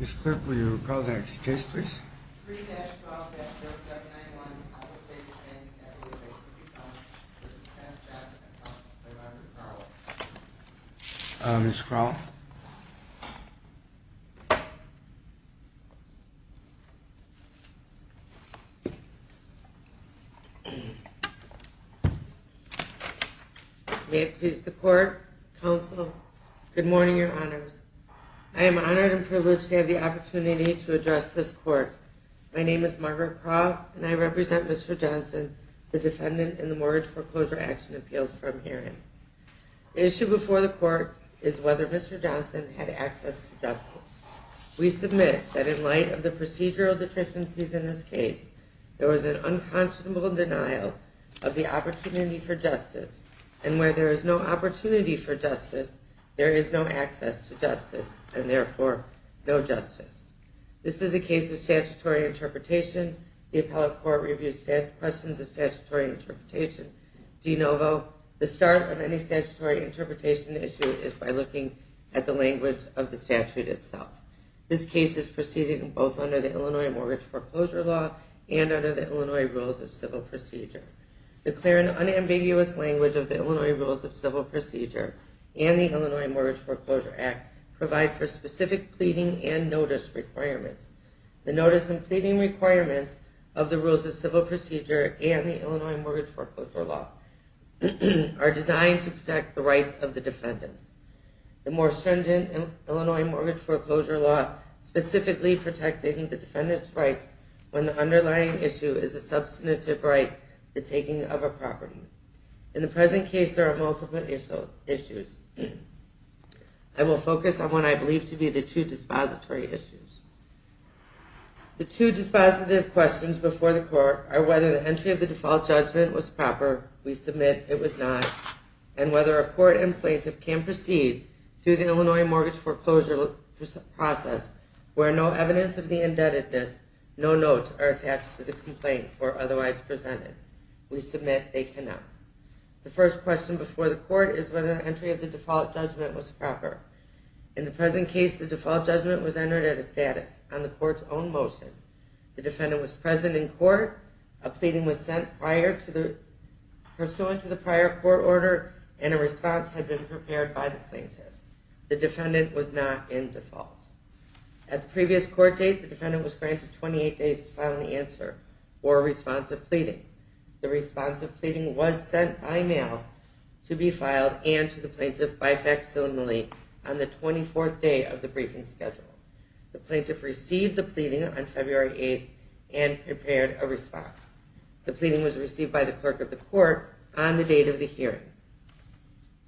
Ms. Clark, will you call the next case, please? 3-12-0791, Appel Savings Bank v. Johnson This is the 10th chance I've had to play by the card. Ms. Crawl? May it please the Court, Counsel, good morning, Your Honors. I am honored and privileged to have the opportunity to address this Court. My name is Margaret Crawl, and I represent Mr. Johnson, the defendant in the Mortgage Foreclosure Action Appeals Firm hearing. The issue before the Court is whether Mr. Johnson had access to justice. We submit that in light of the procedural deficiencies in this case, there was an unconscionable denial of the opportunity for justice, and where there is no opportunity for justice, there is no access to justice, and therefore, no justice. This is a case of statutory interpretation. The Appellate Court reviews questions of statutory interpretation. De novo, the start of any statutory interpretation issue is by looking at the language of the statute itself. This case is proceeding both under the Illinois Mortgage Foreclosure Law and under the Illinois Rules of Civil Procedure. The clear and unambiguous language of the Illinois Rules of Civil Procedure and the Illinois Mortgage Foreclosure Act provide for specific pleading and notice requirements. The notice and pleading requirements of the Rules of Civil Procedure and the Illinois Mortgage Foreclosure Law are designed to protect the rights of the defendants. The more stringent Illinois Mortgage Foreclosure Law specifically protects the defendant's rights when the underlying issue is a substantive right, the taking of a property. In the present case, there are multiple issues. I will focus on what I believe to be the two dispository issues. The two dispositive questions before the court are whether the entry of the default judgment was proper, we submit it was not, and whether a court and plaintiff can proceed through the Illinois Mortgage Foreclosure process where no evidence of the indebtedness, no notes are attached to the complaint or otherwise presented. We submit they cannot. The first question before the court is whether the entry of the default judgment was proper. In the present case, the default judgment was entered at a status on the court's own motion. The defendant was present in court, a pleading was sent pursuant to the prior court order, and a response had been prepared by the plaintiff. The defendant was not in default. At the previous court date, the defendant was granted 28 days to file an answer or a response of pleading. The response of pleading was sent by mail to be filed and to the plaintiff by facsimile on the 24th day of the briefing schedule. The plaintiff received the pleading on February 8th and prepared a response. The pleading was received by the clerk of the court on the date of the hearing.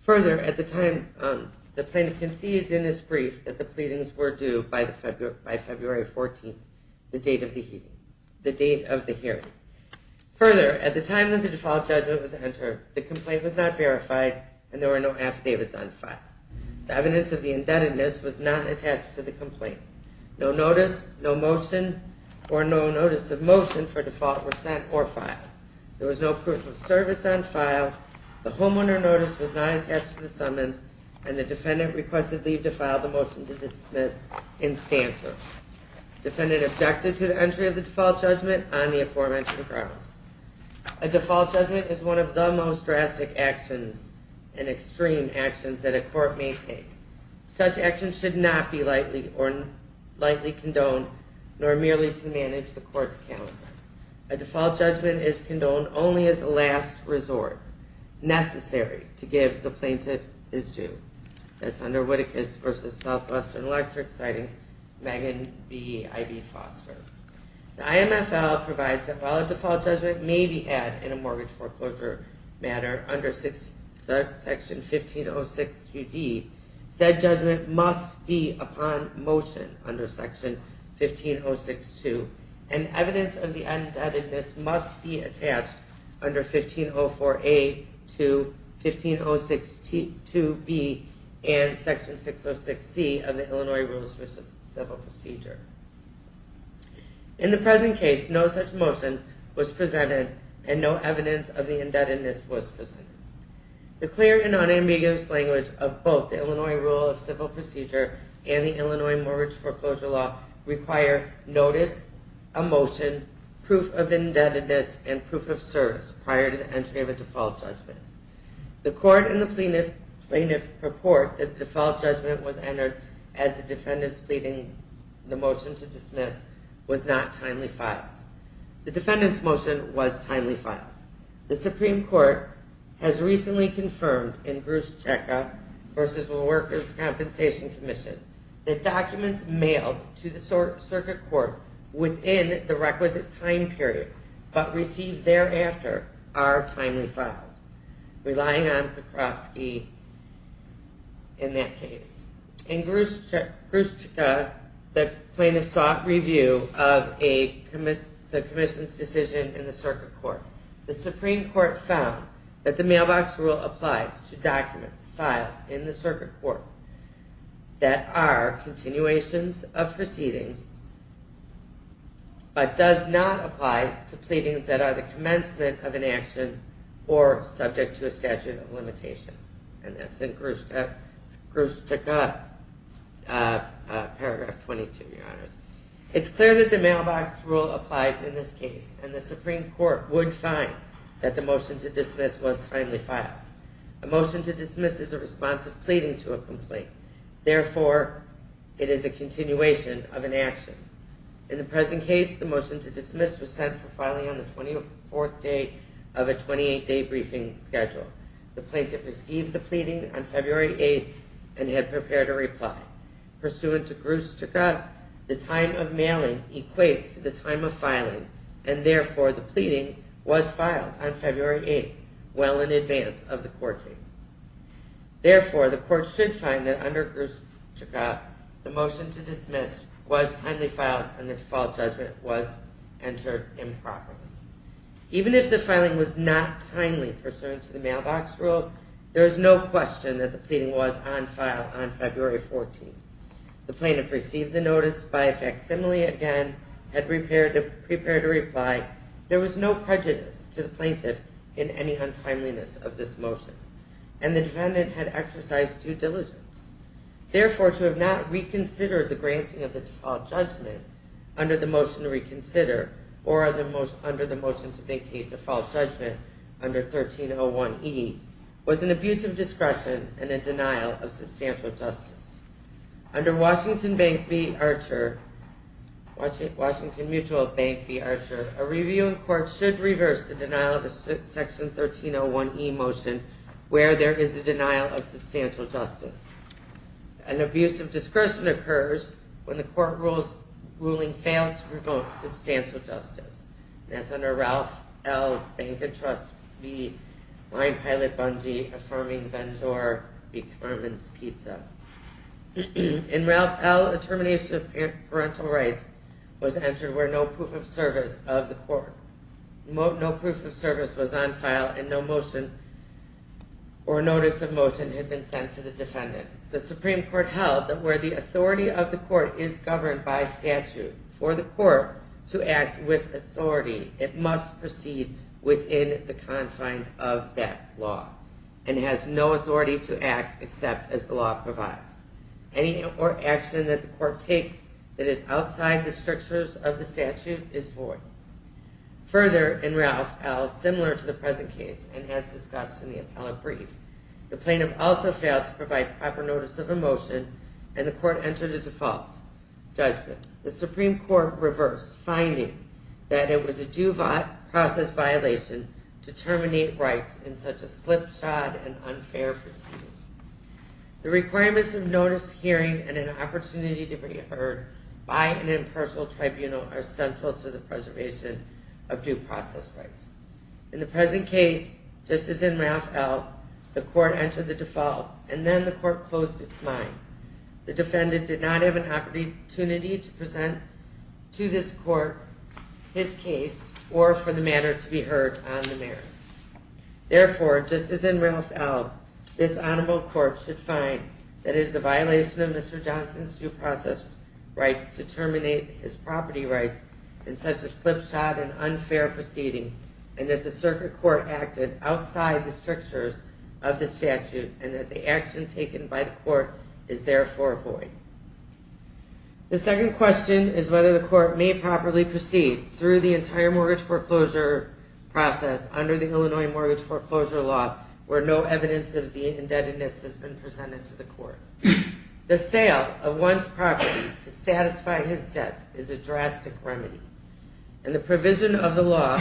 Further, at the time the plaintiff concedes in his brief that the pleadings were due by February 14th, the date of the hearing. Further, at the time that the default judgment was entered, the complaint was not verified and there were no affidavits on file. The evidence of the indebtedness was not attached to the complaint. No notice, no motion, or no notice of motion for default were sent or filed. There was no proof of service on file, the homeowner notice was not attached to the summons, and the defendant requested leave to file the motion to dismiss in stance. The defendant objected to the entry of the default judgment on the aforementioned grounds. A default judgment is one of the most drastic actions and extreme actions that a court may take. Such actions should not be lightly condoned, nor merely to manage the court's calendar. A default judgment is condoned only as a last resort necessary to give the plaintiff his due. That's under Whittakus v. Southwestern Electric, citing Megan B. Ivey Foster. The IMFL provides that while a default judgment may be had in a mortgage foreclosure matter under Section 1506QD, said judgment must be upon motion under Section 1506Q, and evidence of the indebtedness must be attached under 1504A to 1506QB and Section 606C of the Illinois Rules for Civil Procedure. In the present case, no such motion was presented, and no evidence of the indebtedness was presented. The clear and unambiguous language of both the Illinois Rule of Civil Procedure and the Illinois Mortgage Foreclosure Law require notice, a motion, proof of indebtedness, and proof of service prior to the entry of a default judgment. The court and the plaintiff report that the default judgment was entered as the defendant's pleading the motion to dismiss was not timely filed. The defendant's motion was timely filed. The Supreme Court has recently confirmed in Gruszczyka v. Workers' Compensation Commission that documents mailed to the circuit court within the requisite time period but received thereafter are timely filed, relying on Pekowski in that case. In Gruszczyka, the plaintiff sought review of the commission's decision in the circuit court. The Supreme Court found that the mailbox rule applies to documents filed in the circuit court that are continuations of proceedings but does not apply to pleadings that are the commencement of an action or subject to a statute of limitations. And that's in Gruszczyka, paragraph 22, Your Honors. It's clear that the mailbox rule applies in this case, and the Supreme Court would find that the motion to dismiss was timely filed. A motion to dismiss is a response of pleading to a complaint. Therefore, it is a continuation of an action. In the present case, the motion to dismiss was sent for filing on the 24th day of a 28-day briefing schedule. The plaintiff received the pleading on February 8th and had prepared a reply. Pursuant to Gruszczyka, the time of mailing equates to the time of filing, and therefore the pleading was filed on February 8th well in advance of the court date. Therefore, the court should find that under Gruszczyka, the motion to dismiss was timely filed and the default judgment was entered improperly. Even if the filing was not timely pursuant to the mailbox rule, there is no question that the pleading was on file on February 14th. The plaintiff received the notice by facsimile again, had prepared a reply. There was no prejudice to the plaintiff in any untimeliness of this motion, and the defendant had exercised due diligence. Therefore, to have not reconsidered the granting of the default judgment under the motion to reconsider or under the motion to vacate the default judgment under 1301e was an abuse of discretion and a denial of substantial justice. Under Washington Mutual Bank v. Archer, a review in court should reverse the denial of Section 1301e motion where there is a denial of substantial justice. An abuse of discretion occurs when the court ruling fails to promote substantial justice. That's under Ralph L. Bank and Trust v. Line Pilot Bundy, affirming Vendor v. Carmen's Pizza. In Ralph L., a termination of parental rights was entered where no proof of service of the court, the Supreme Court held that where the authority of the court is governed by statute for the court to act with authority, it must proceed within the confines of that law and has no authority to act except as the law provides. Any action that the court takes that is outside the strictures of the statute is void. Further, in Ralph L., similar to the present case and as discussed in the appellate brief, the plaintiff also failed to provide proper notice of a motion and the court entered a default judgment. The Supreme Court reversed, finding that it was a due process violation to terminate rights in such a slipshod and unfair proceeding. The requirements of notice, hearing, and an opportunity to be heard by an impartial tribunal are central to the preservation of due process rights. In the present case, just as in Ralph L., the court entered the default and then the court closed its mind. The defendant did not have an opportunity to present to this court his case or for the matter to be heard on the merits. Therefore, just as in Ralph L., this honorable court should find that it is a violation of Mr. Johnson's due process rights to terminate his property rights in such a slipshod and unfair proceeding and that the circuit court acted outside the strictures of the statute and that the action taken by the court is therefore void. The second question is whether the court may properly proceed through the entire mortgage foreclosure process under the Illinois Mortgage Foreclosure Law where no evidence of the indebtedness has been presented to the court. The sale of one's property to satisfy his debts is a drastic remedy and the provision of the law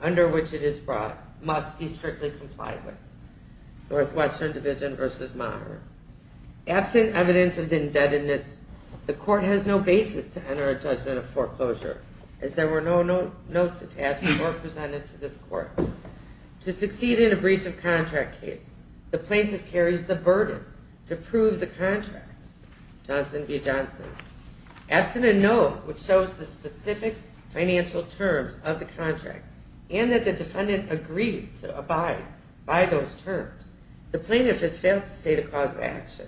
under which it is brought must be strictly complied with. Northwestern Division v. Monaghan. Absent evidence of the indebtedness, the court has no basis to enter a judgment of foreclosure as there were no notes attached or presented to this court. To succeed in a breach of contract case, the plaintiff carries the burden to prove the contract. Johnson v. Johnson. Absent a note which shows the specific financial terms of the contract and that the defendant agreed to abide by those terms, the plaintiff has failed to state a cause of action.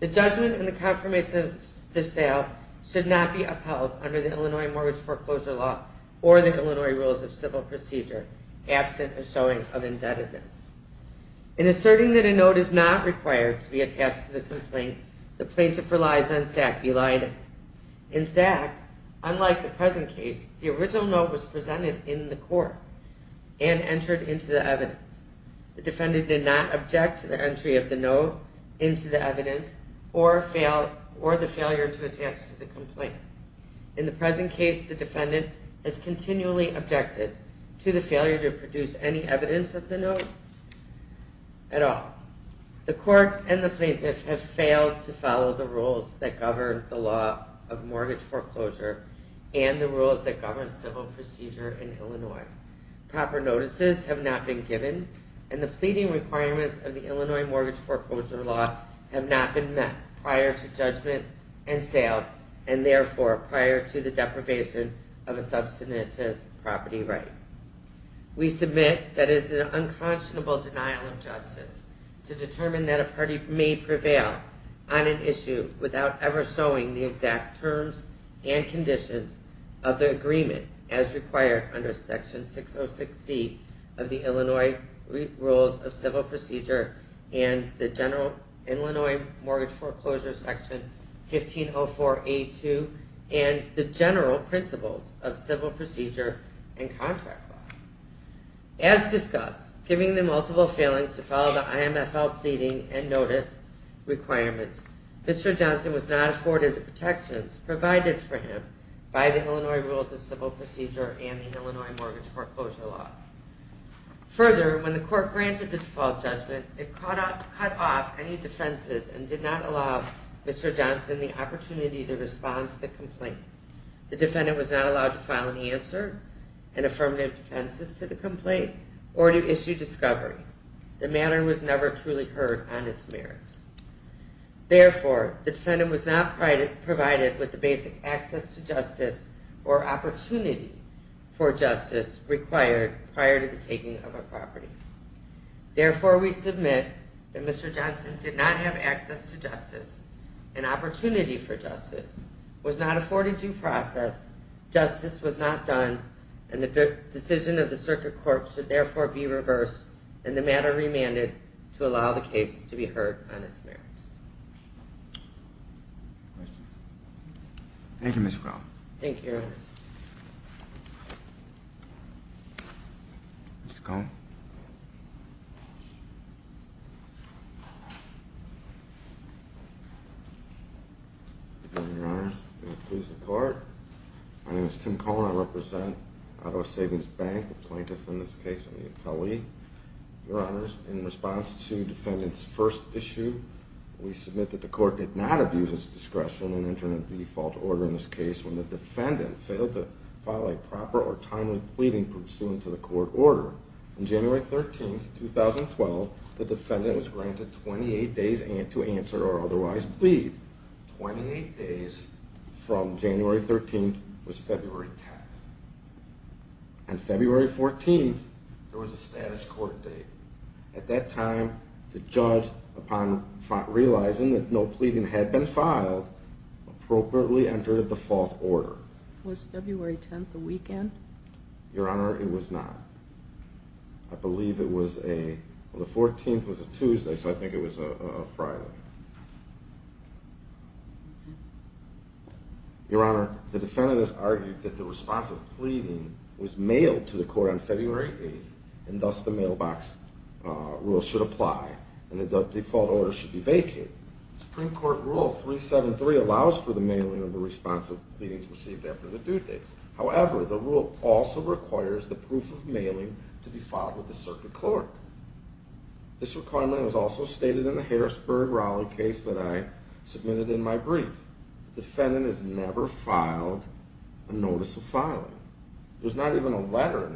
The judgment and the confirmation of this sale should not be upheld under the Illinois Mortgage Foreclosure Law or the Illinois Rules of Civil Procedure absent a showing of indebtedness. In asserting that a note is not required to be attached to the complaint, the plaintiff relies on SAC v. Leiden. In SAC, unlike the present case, the original note was presented in the court and entered into the evidence. The defendant did not object to the entry of the note into the evidence or the failure to attach to the complaint. In the present case, the defendant has continually objected to the failure to produce any evidence of the note at all. The court and the plaintiff have failed to follow the rules that govern the law of mortgage foreclosure and the rules that govern civil procedure in Illinois. Proper notices have not been given and the pleading requirements of the Illinois Mortgage Foreclosure Law have not been met prior to judgment and sale and therefore prior to the deprivation of a substantive property right. We submit that it is an unconscionable denial of justice to determine that a party may prevail on an issue without ever showing the exact terms and conditions of the agreement as required under Section 606C of the Illinois Rules of Civil Procedure and the General Illinois Mortgage Foreclosure Section 1504A2 and the General Principles of Civil Procedure and Contract Law. As discussed, giving the multiple failings to follow the IMFL pleading and notice requirements, Mr. Johnson was not afforded the protections provided for him by the Illinois Rules of Civil Procedure and the Illinois Mortgage Foreclosure Law. Further, when the court granted the default judgment, it cut off any defenses and did not allow Mr. Johnson the opportunity to respond to the complaint. The defendant was not allowed to file any answer and affirmative defenses to the complaint or to issue discovery. The matter was never truly heard on its merits. or opportunity for justice required prior to the taking of a property. Therefore, we submit that Mr. Johnson did not have access to justice, an opportunity for justice, was not afforded due process, justice was not done, and the decision of the Circuit Court should therefore be reversed and the matter remanded to allow the case to be heard on its merits. Questions? Thank you, Mr. Cohn. Thank you, Your Honor. Mr. Cohn. Your Honor, may it please the Court. My name is Tim Cohn. I represent Ottawa Savings Bank, a plaintiff in this case on the appellee. Your Honor, in response to the defendant's first issue, we submit that the Court did not abuse its discretion in entering a default order in this case when the defendant failed to file a proper or timely pleading pursuant to the court order. On January 13th, 2012, the defendant was granted 28 days to answer or otherwise plead. Twenty-eight days from January 13th was February 10th. On February 14th, there was a status court date. At that time, the judge, upon realizing that no pleading had been filed, appropriately entered a default order. Was February 10th a weekend? Your Honor, it was not. I believe it was a... Well, the 14th was a Tuesday, so I think it was a Friday. Your Honor, the defendant has argued that the response of pleading was mailed to the court on February 8th and thus the mailbox rule should apply and that the default order should be vacated. The Supreme Court Rule 373 allows for the mailing of the response of pleadings received after the due date. However, the rule also requires the proof of mailing to be filed with the circuit court. This requirement was also stated in the Harrisburg-Raleigh case that I submitted in my brief. The defendant has never filed a notice of filing. There's not even a letter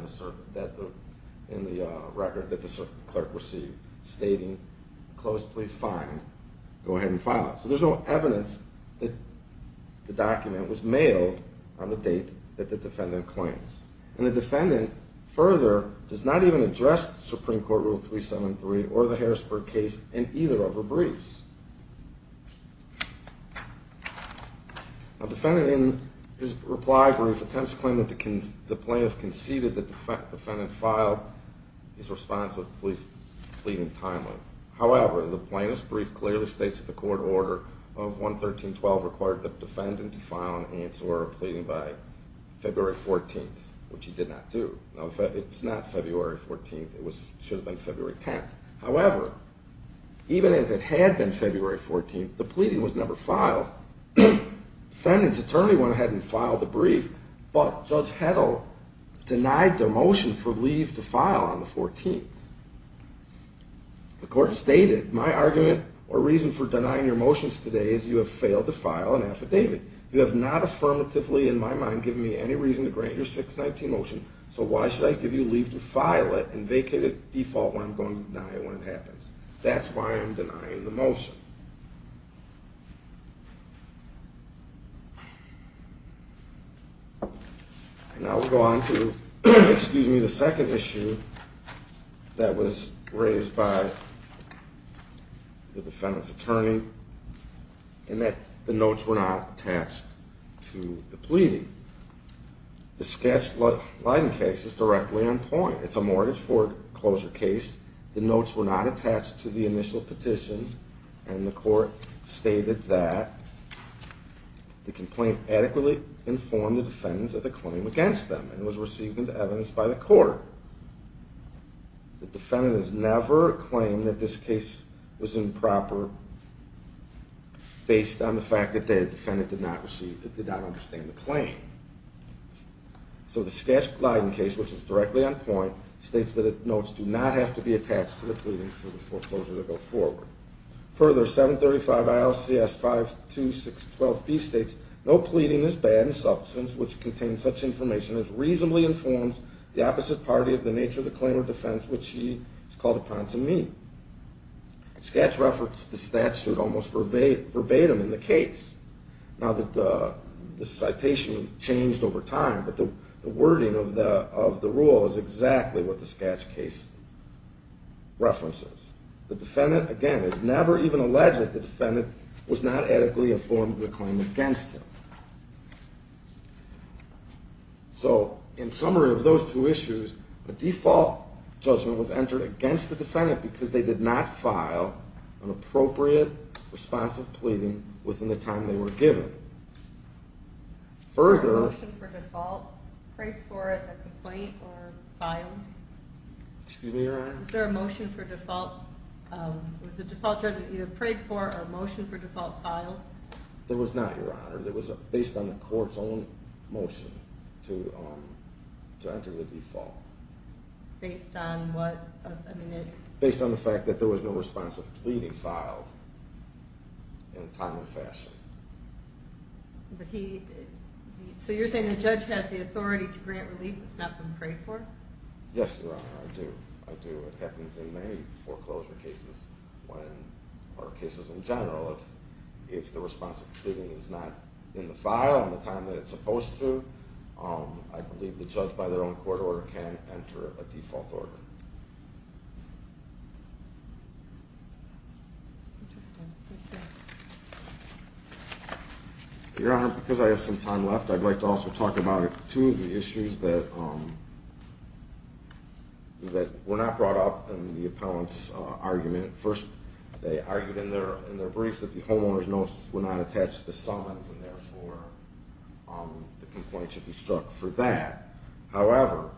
in the record that the circuit clerk received stating, close please find, go ahead and file it. So there's no evidence that the document was mailed on the date that the defendant claims. And the defendant further does not even address the Supreme Court Rule 373 or the Harrisburg case in either of her briefs. The defendant in his reply brief attempts to claim that the plaintiff conceded that the defendant filed his response of the police pleading timely. However, the plaintiff's brief clearly states that the court order of 113.12 required the defendant to file an answer pleading by February 14th, which he did not do. It's not February 14th, it should have been February 10th. However, even if it had been February 14th, the pleading was never filed. The defendant's attorney went ahead and filed the brief, but Judge Heddle denied their motion for leave to file on the 14th. The court stated, my argument or reason for denying your motions today is you have failed to file an affidavit. You have not affirmatively, in my mind, given me any reason to grant your 619 motion, so why should I give you leave to file it and vacate it by default when I'm going to deny it when it happens? That's why I'm denying the motion. Now we'll go on to the second issue that was raised by the defendant's attorney The defendant's attorney stated the Sketch-Leiden case is directly on point. It's a mortgage foreclosure case. The notes were not attached to the initial petition and the court stated that the complaint adequately informed the defendant of the claim against them and was received into evidence by the court. The defendant has never claimed that this case was improper based on the fact that the defendant did not receive So the Sketch-Leiden case, which is directly on point, states that the notes do not have to be attached to the pleading for the foreclosure to go forward. Further, 735 ILCS 52612B states no pleading is bad in substance, which contains such information as reasonably informs the opposite party of the nature of the claim or defense which she has called upon to meet. Sketch referenced the statute almost verbatim in the case. Now, the citation changed over time, but the wording of the rule is exactly what the Sketch case references. The defendant, again, is never even alleged that the defendant was not adequately informed of the claim against him. So, in summary of those two issues, because they did not file an appropriate response of pleading within the time they were given. Was there a motion for default? Prayed for it, a complaint, or filed? Excuse me, Your Honor? Was there a motion for default? Was the default judgment either prayed for or a motion for default filed? There was not, Your Honor. It was based on the court's own motion to enter the default. Based on what? Based on the fact that there was no response of pleading filed in a timely fashion. So you're saying the judge has the authority to grant relief that's not been prayed for? Yes, Your Honor, I do. It happens in many foreclosure cases, or cases in general. If the response of pleading is not in the file in the time that it's supposed to, I believe the judge, by their own court order, can enter a default order. Interesting. Thank you. Your Honor, because I have some time left, I'd like to also talk about two of the issues that were not brought up in the appellant's argument. First, they argued in their brief that the homeowner's notice were not attached to the summons, and therefore the complaint should be struck for that. However,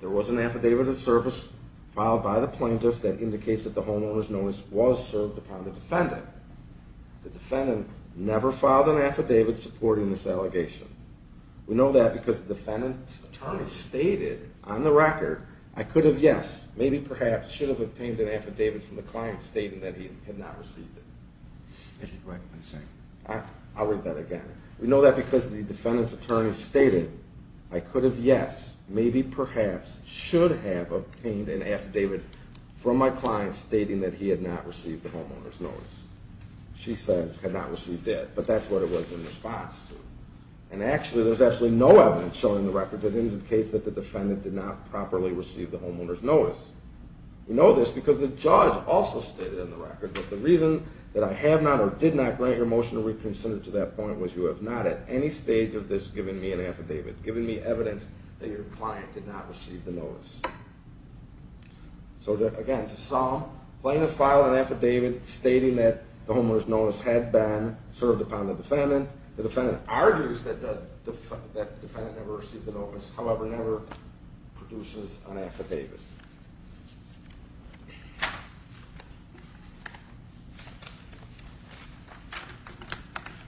there was an affidavit of service filed by the plaintiff that indicates that the homeowner's notice was served upon the defendant. The defendant never filed an affidavit supporting this allegation. We know that because the defendant's attorney stated on the record, I could have, yes, maybe, perhaps, should have obtained an affidavit from the client stating that he had not received it. I'll read that again. We know that because the defendant's attorney stated, I could have, yes, maybe, perhaps, should have obtained an affidavit from my client stating that he had not received the homeowner's notice. She says, had not received it, but that's what it was in response to. And actually, there's actually no evidence showing the record that indicates that the defendant did not properly receive the homeowner's notice. We know this because the judge also stated on the record that the reason that I have not or did not grant your motion to reconsider to that point was you have not at any stage of this given me an affidavit, given me evidence that your client did not receive the notice. So again, to sum, plain and file an affidavit stating that the homeowner's notice had been served upon the defendant, the defendant argues that the defendant never received the notice, however, never produces an affidavit.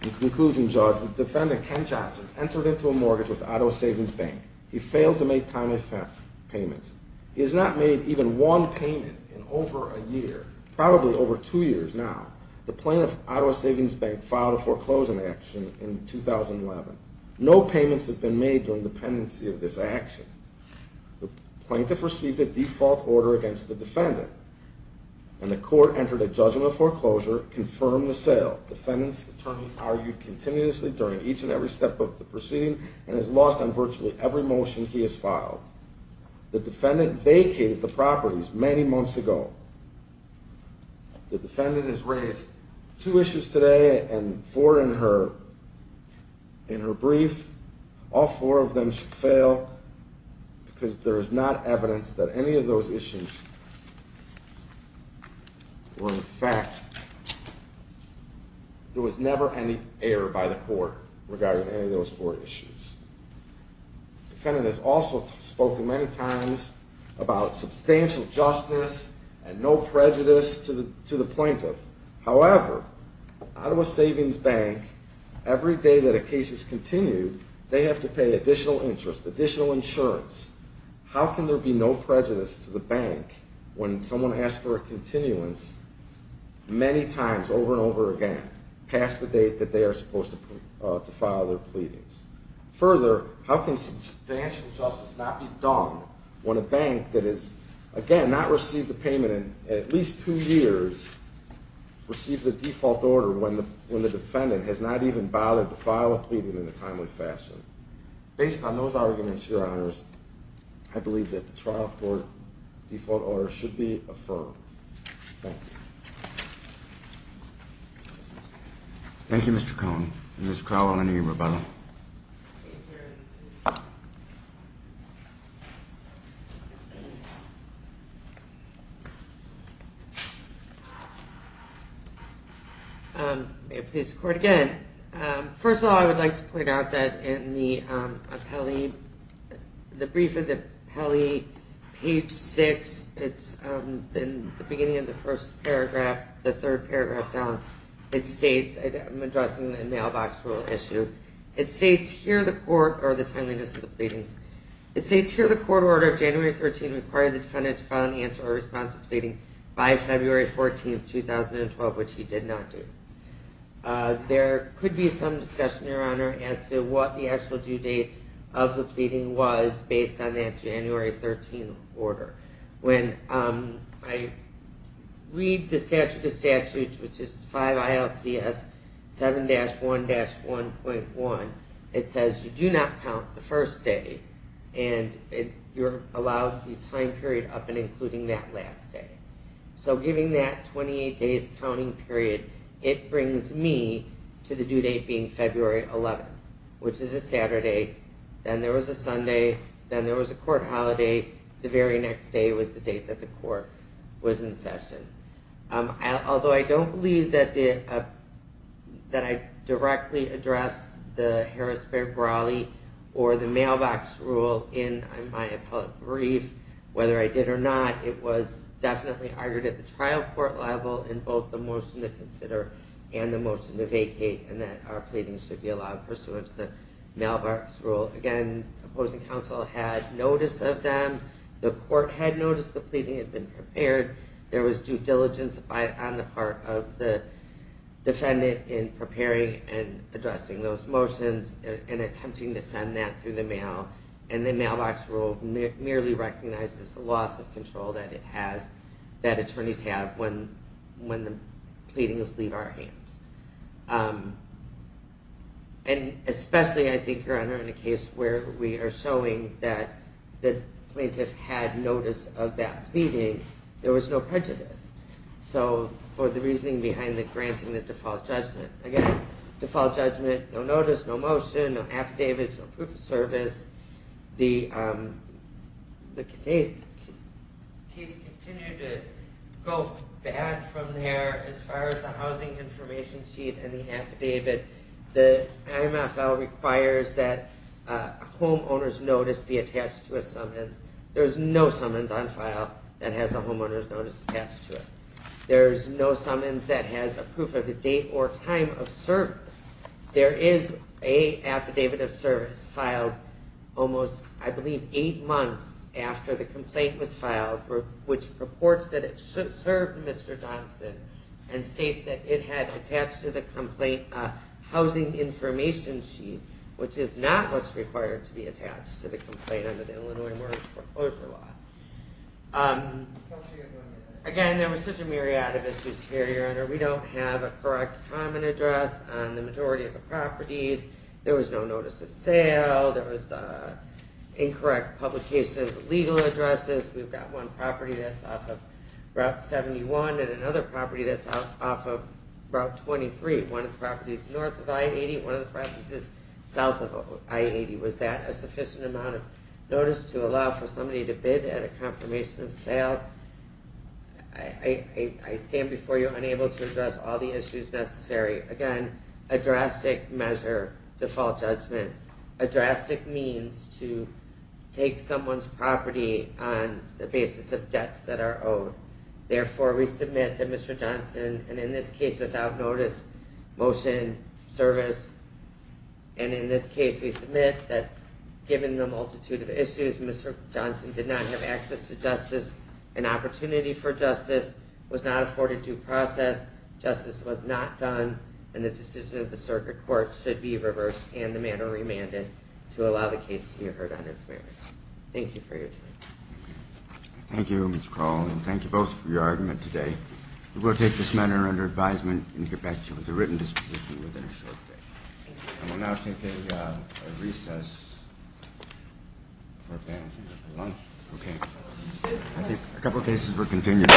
In conclusion, Judge, the defendant, Ken Johnson, entered into a mortgage with Auto Savings Bank. He failed to make time effect payments. He has not made even one payment in over a year, probably over two years now. The plaintiff, Auto Savings Bank, filed a foreclosing action in 2011. No payments have been made during the pendency of this action. The plaintiff received a default order against the defendant and the court entered a judgment foreclosure, confirmed the sale. The defendant's attorney argued continuously during each and every step of the proceeding and has lost on virtually every motion he has filed. The defendant vacated the properties many months ago. The defendant has raised two issues today and four in her brief. All four of them should fail because there is not evidence that any of those issues were in fact... There was never any error by the court regarding any of those four issues. The defendant has also spoken many times about substantial justice and no prejudice to the plaintiff. However, Auto Savings Bank, every day that a case is continued, they have to pay additional interest, additional insurance. How can there be no prejudice to the bank when someone asks for a continuance many times over and over again past the date that they are supposed to file their pleadings? Further, how can substantial justice not be done when a bank that has, again, not received a payment in at least two years receives a default order when the defendant has not even bothered to file a pleading in a timely fashion? Based on those arguments, Your Honors, I believe that the trial court default order should be affirmed. Thank you. Thank you, Mr. Cohen. Ms. Crowell, any rebuttal? May it please the Court again. First of all, I would like to point out that in the brief of the appellee, page 6, in the beginning of the first paragraph, the third paragraph down, I'm addressing the mailbox rule issue. It states here the court order of January 13 required the defendant to file an answer or a response to a pleading by February 14, 2012, of which he did not do. There could be some discussion, Your Honor, as to what the actual due date of the pleading was based on that January 13 order. When I read the statute of statutes, which is 5 ILCS 7-1-1.1, it says you do not count the first day and you're allowed the time period of including that last day. So giving that 28 days counting period, it brings me to the due date being February 11, which is a Saturday. Then there was a Sunday. Then there was a court holiday. The very next day was the date that the court was in session. Although I don't believe that I directly addressed the Harrisburg Raleigh or the mailbox rule in my appellate brief, whether I did or not, it was definitely argued at the trial court level in both the motion to consider and the motion to vacate and that our pleading should be allowed pursuant to the mailbox rule. Again, opposing counsel had notice of them. The court had noticed the pleading had been prepared. There was due diligence on the part of the defendant in preparing and addressing those motions and attempting to send that through the mail. And the mailbox rule merely recognizes the loss of control that attorneys have when the pleadings leave our hands. And especially, I think, Your Honor, in a case where we are showing that the plaintiff had notice of that pleading, there was no prejudice. So for the reasoning behind the granting the default judgment. Again, default judgment, no notice, no motion, no affidavits, no proof of service. The case continued to go bad from there as far as the housing information sheet and the affidavit. The IMFL requires that a homeowner's notice be attached to a summons. There's no summons on file that has a homeowner's notice attached to it. There's no summons that has a proof of the date or time of service. There is a affidavit of service filed almost, I believe, eight months after the complaint was filed which reports that it served Mr. Johnson and states that it had attached to the complaint a housing information sheet which is not what's required to be attached to the complaint under the Illinois mortgage foreclosure law. Again, there was such a myriad of issues here, Your Honor. We don't have a correct common address on the majority of the properties. There was no notice of sale. There was incorrect publication of legal addresses. We've got one property that's off of Route 71 and another property that's off of Route 23. One of the properties is north of I-80 and one of the properties is south of I-80. Was that a sufficient amount of notice to allow for somebody to bid at a confirmation of sale? I stand before you unable to address all the issues necessary. Again, a drastic measure, default judgment, a drastic means to take someone's property on the basis of debts that are owed. Therefore, we submit that Mr. Johnson and in this case without notice, motion, service and in this case we submit that given the multitude of issues, Mr. Johnson did not have access to justice and opportunity for justice, was not afforded due process, justice was not done and the decision of the circuit court should be reversed and the matter remanded to allow the case to be heard on its merits. Thank you for your time. Thank you, Mr. Kroll, and thank you both for your argument today. We will take this matter under advisement and get back to you with a written disposition within a short day. And we'll now take a recess for lunch. Okay. I think a couple of cases were continued.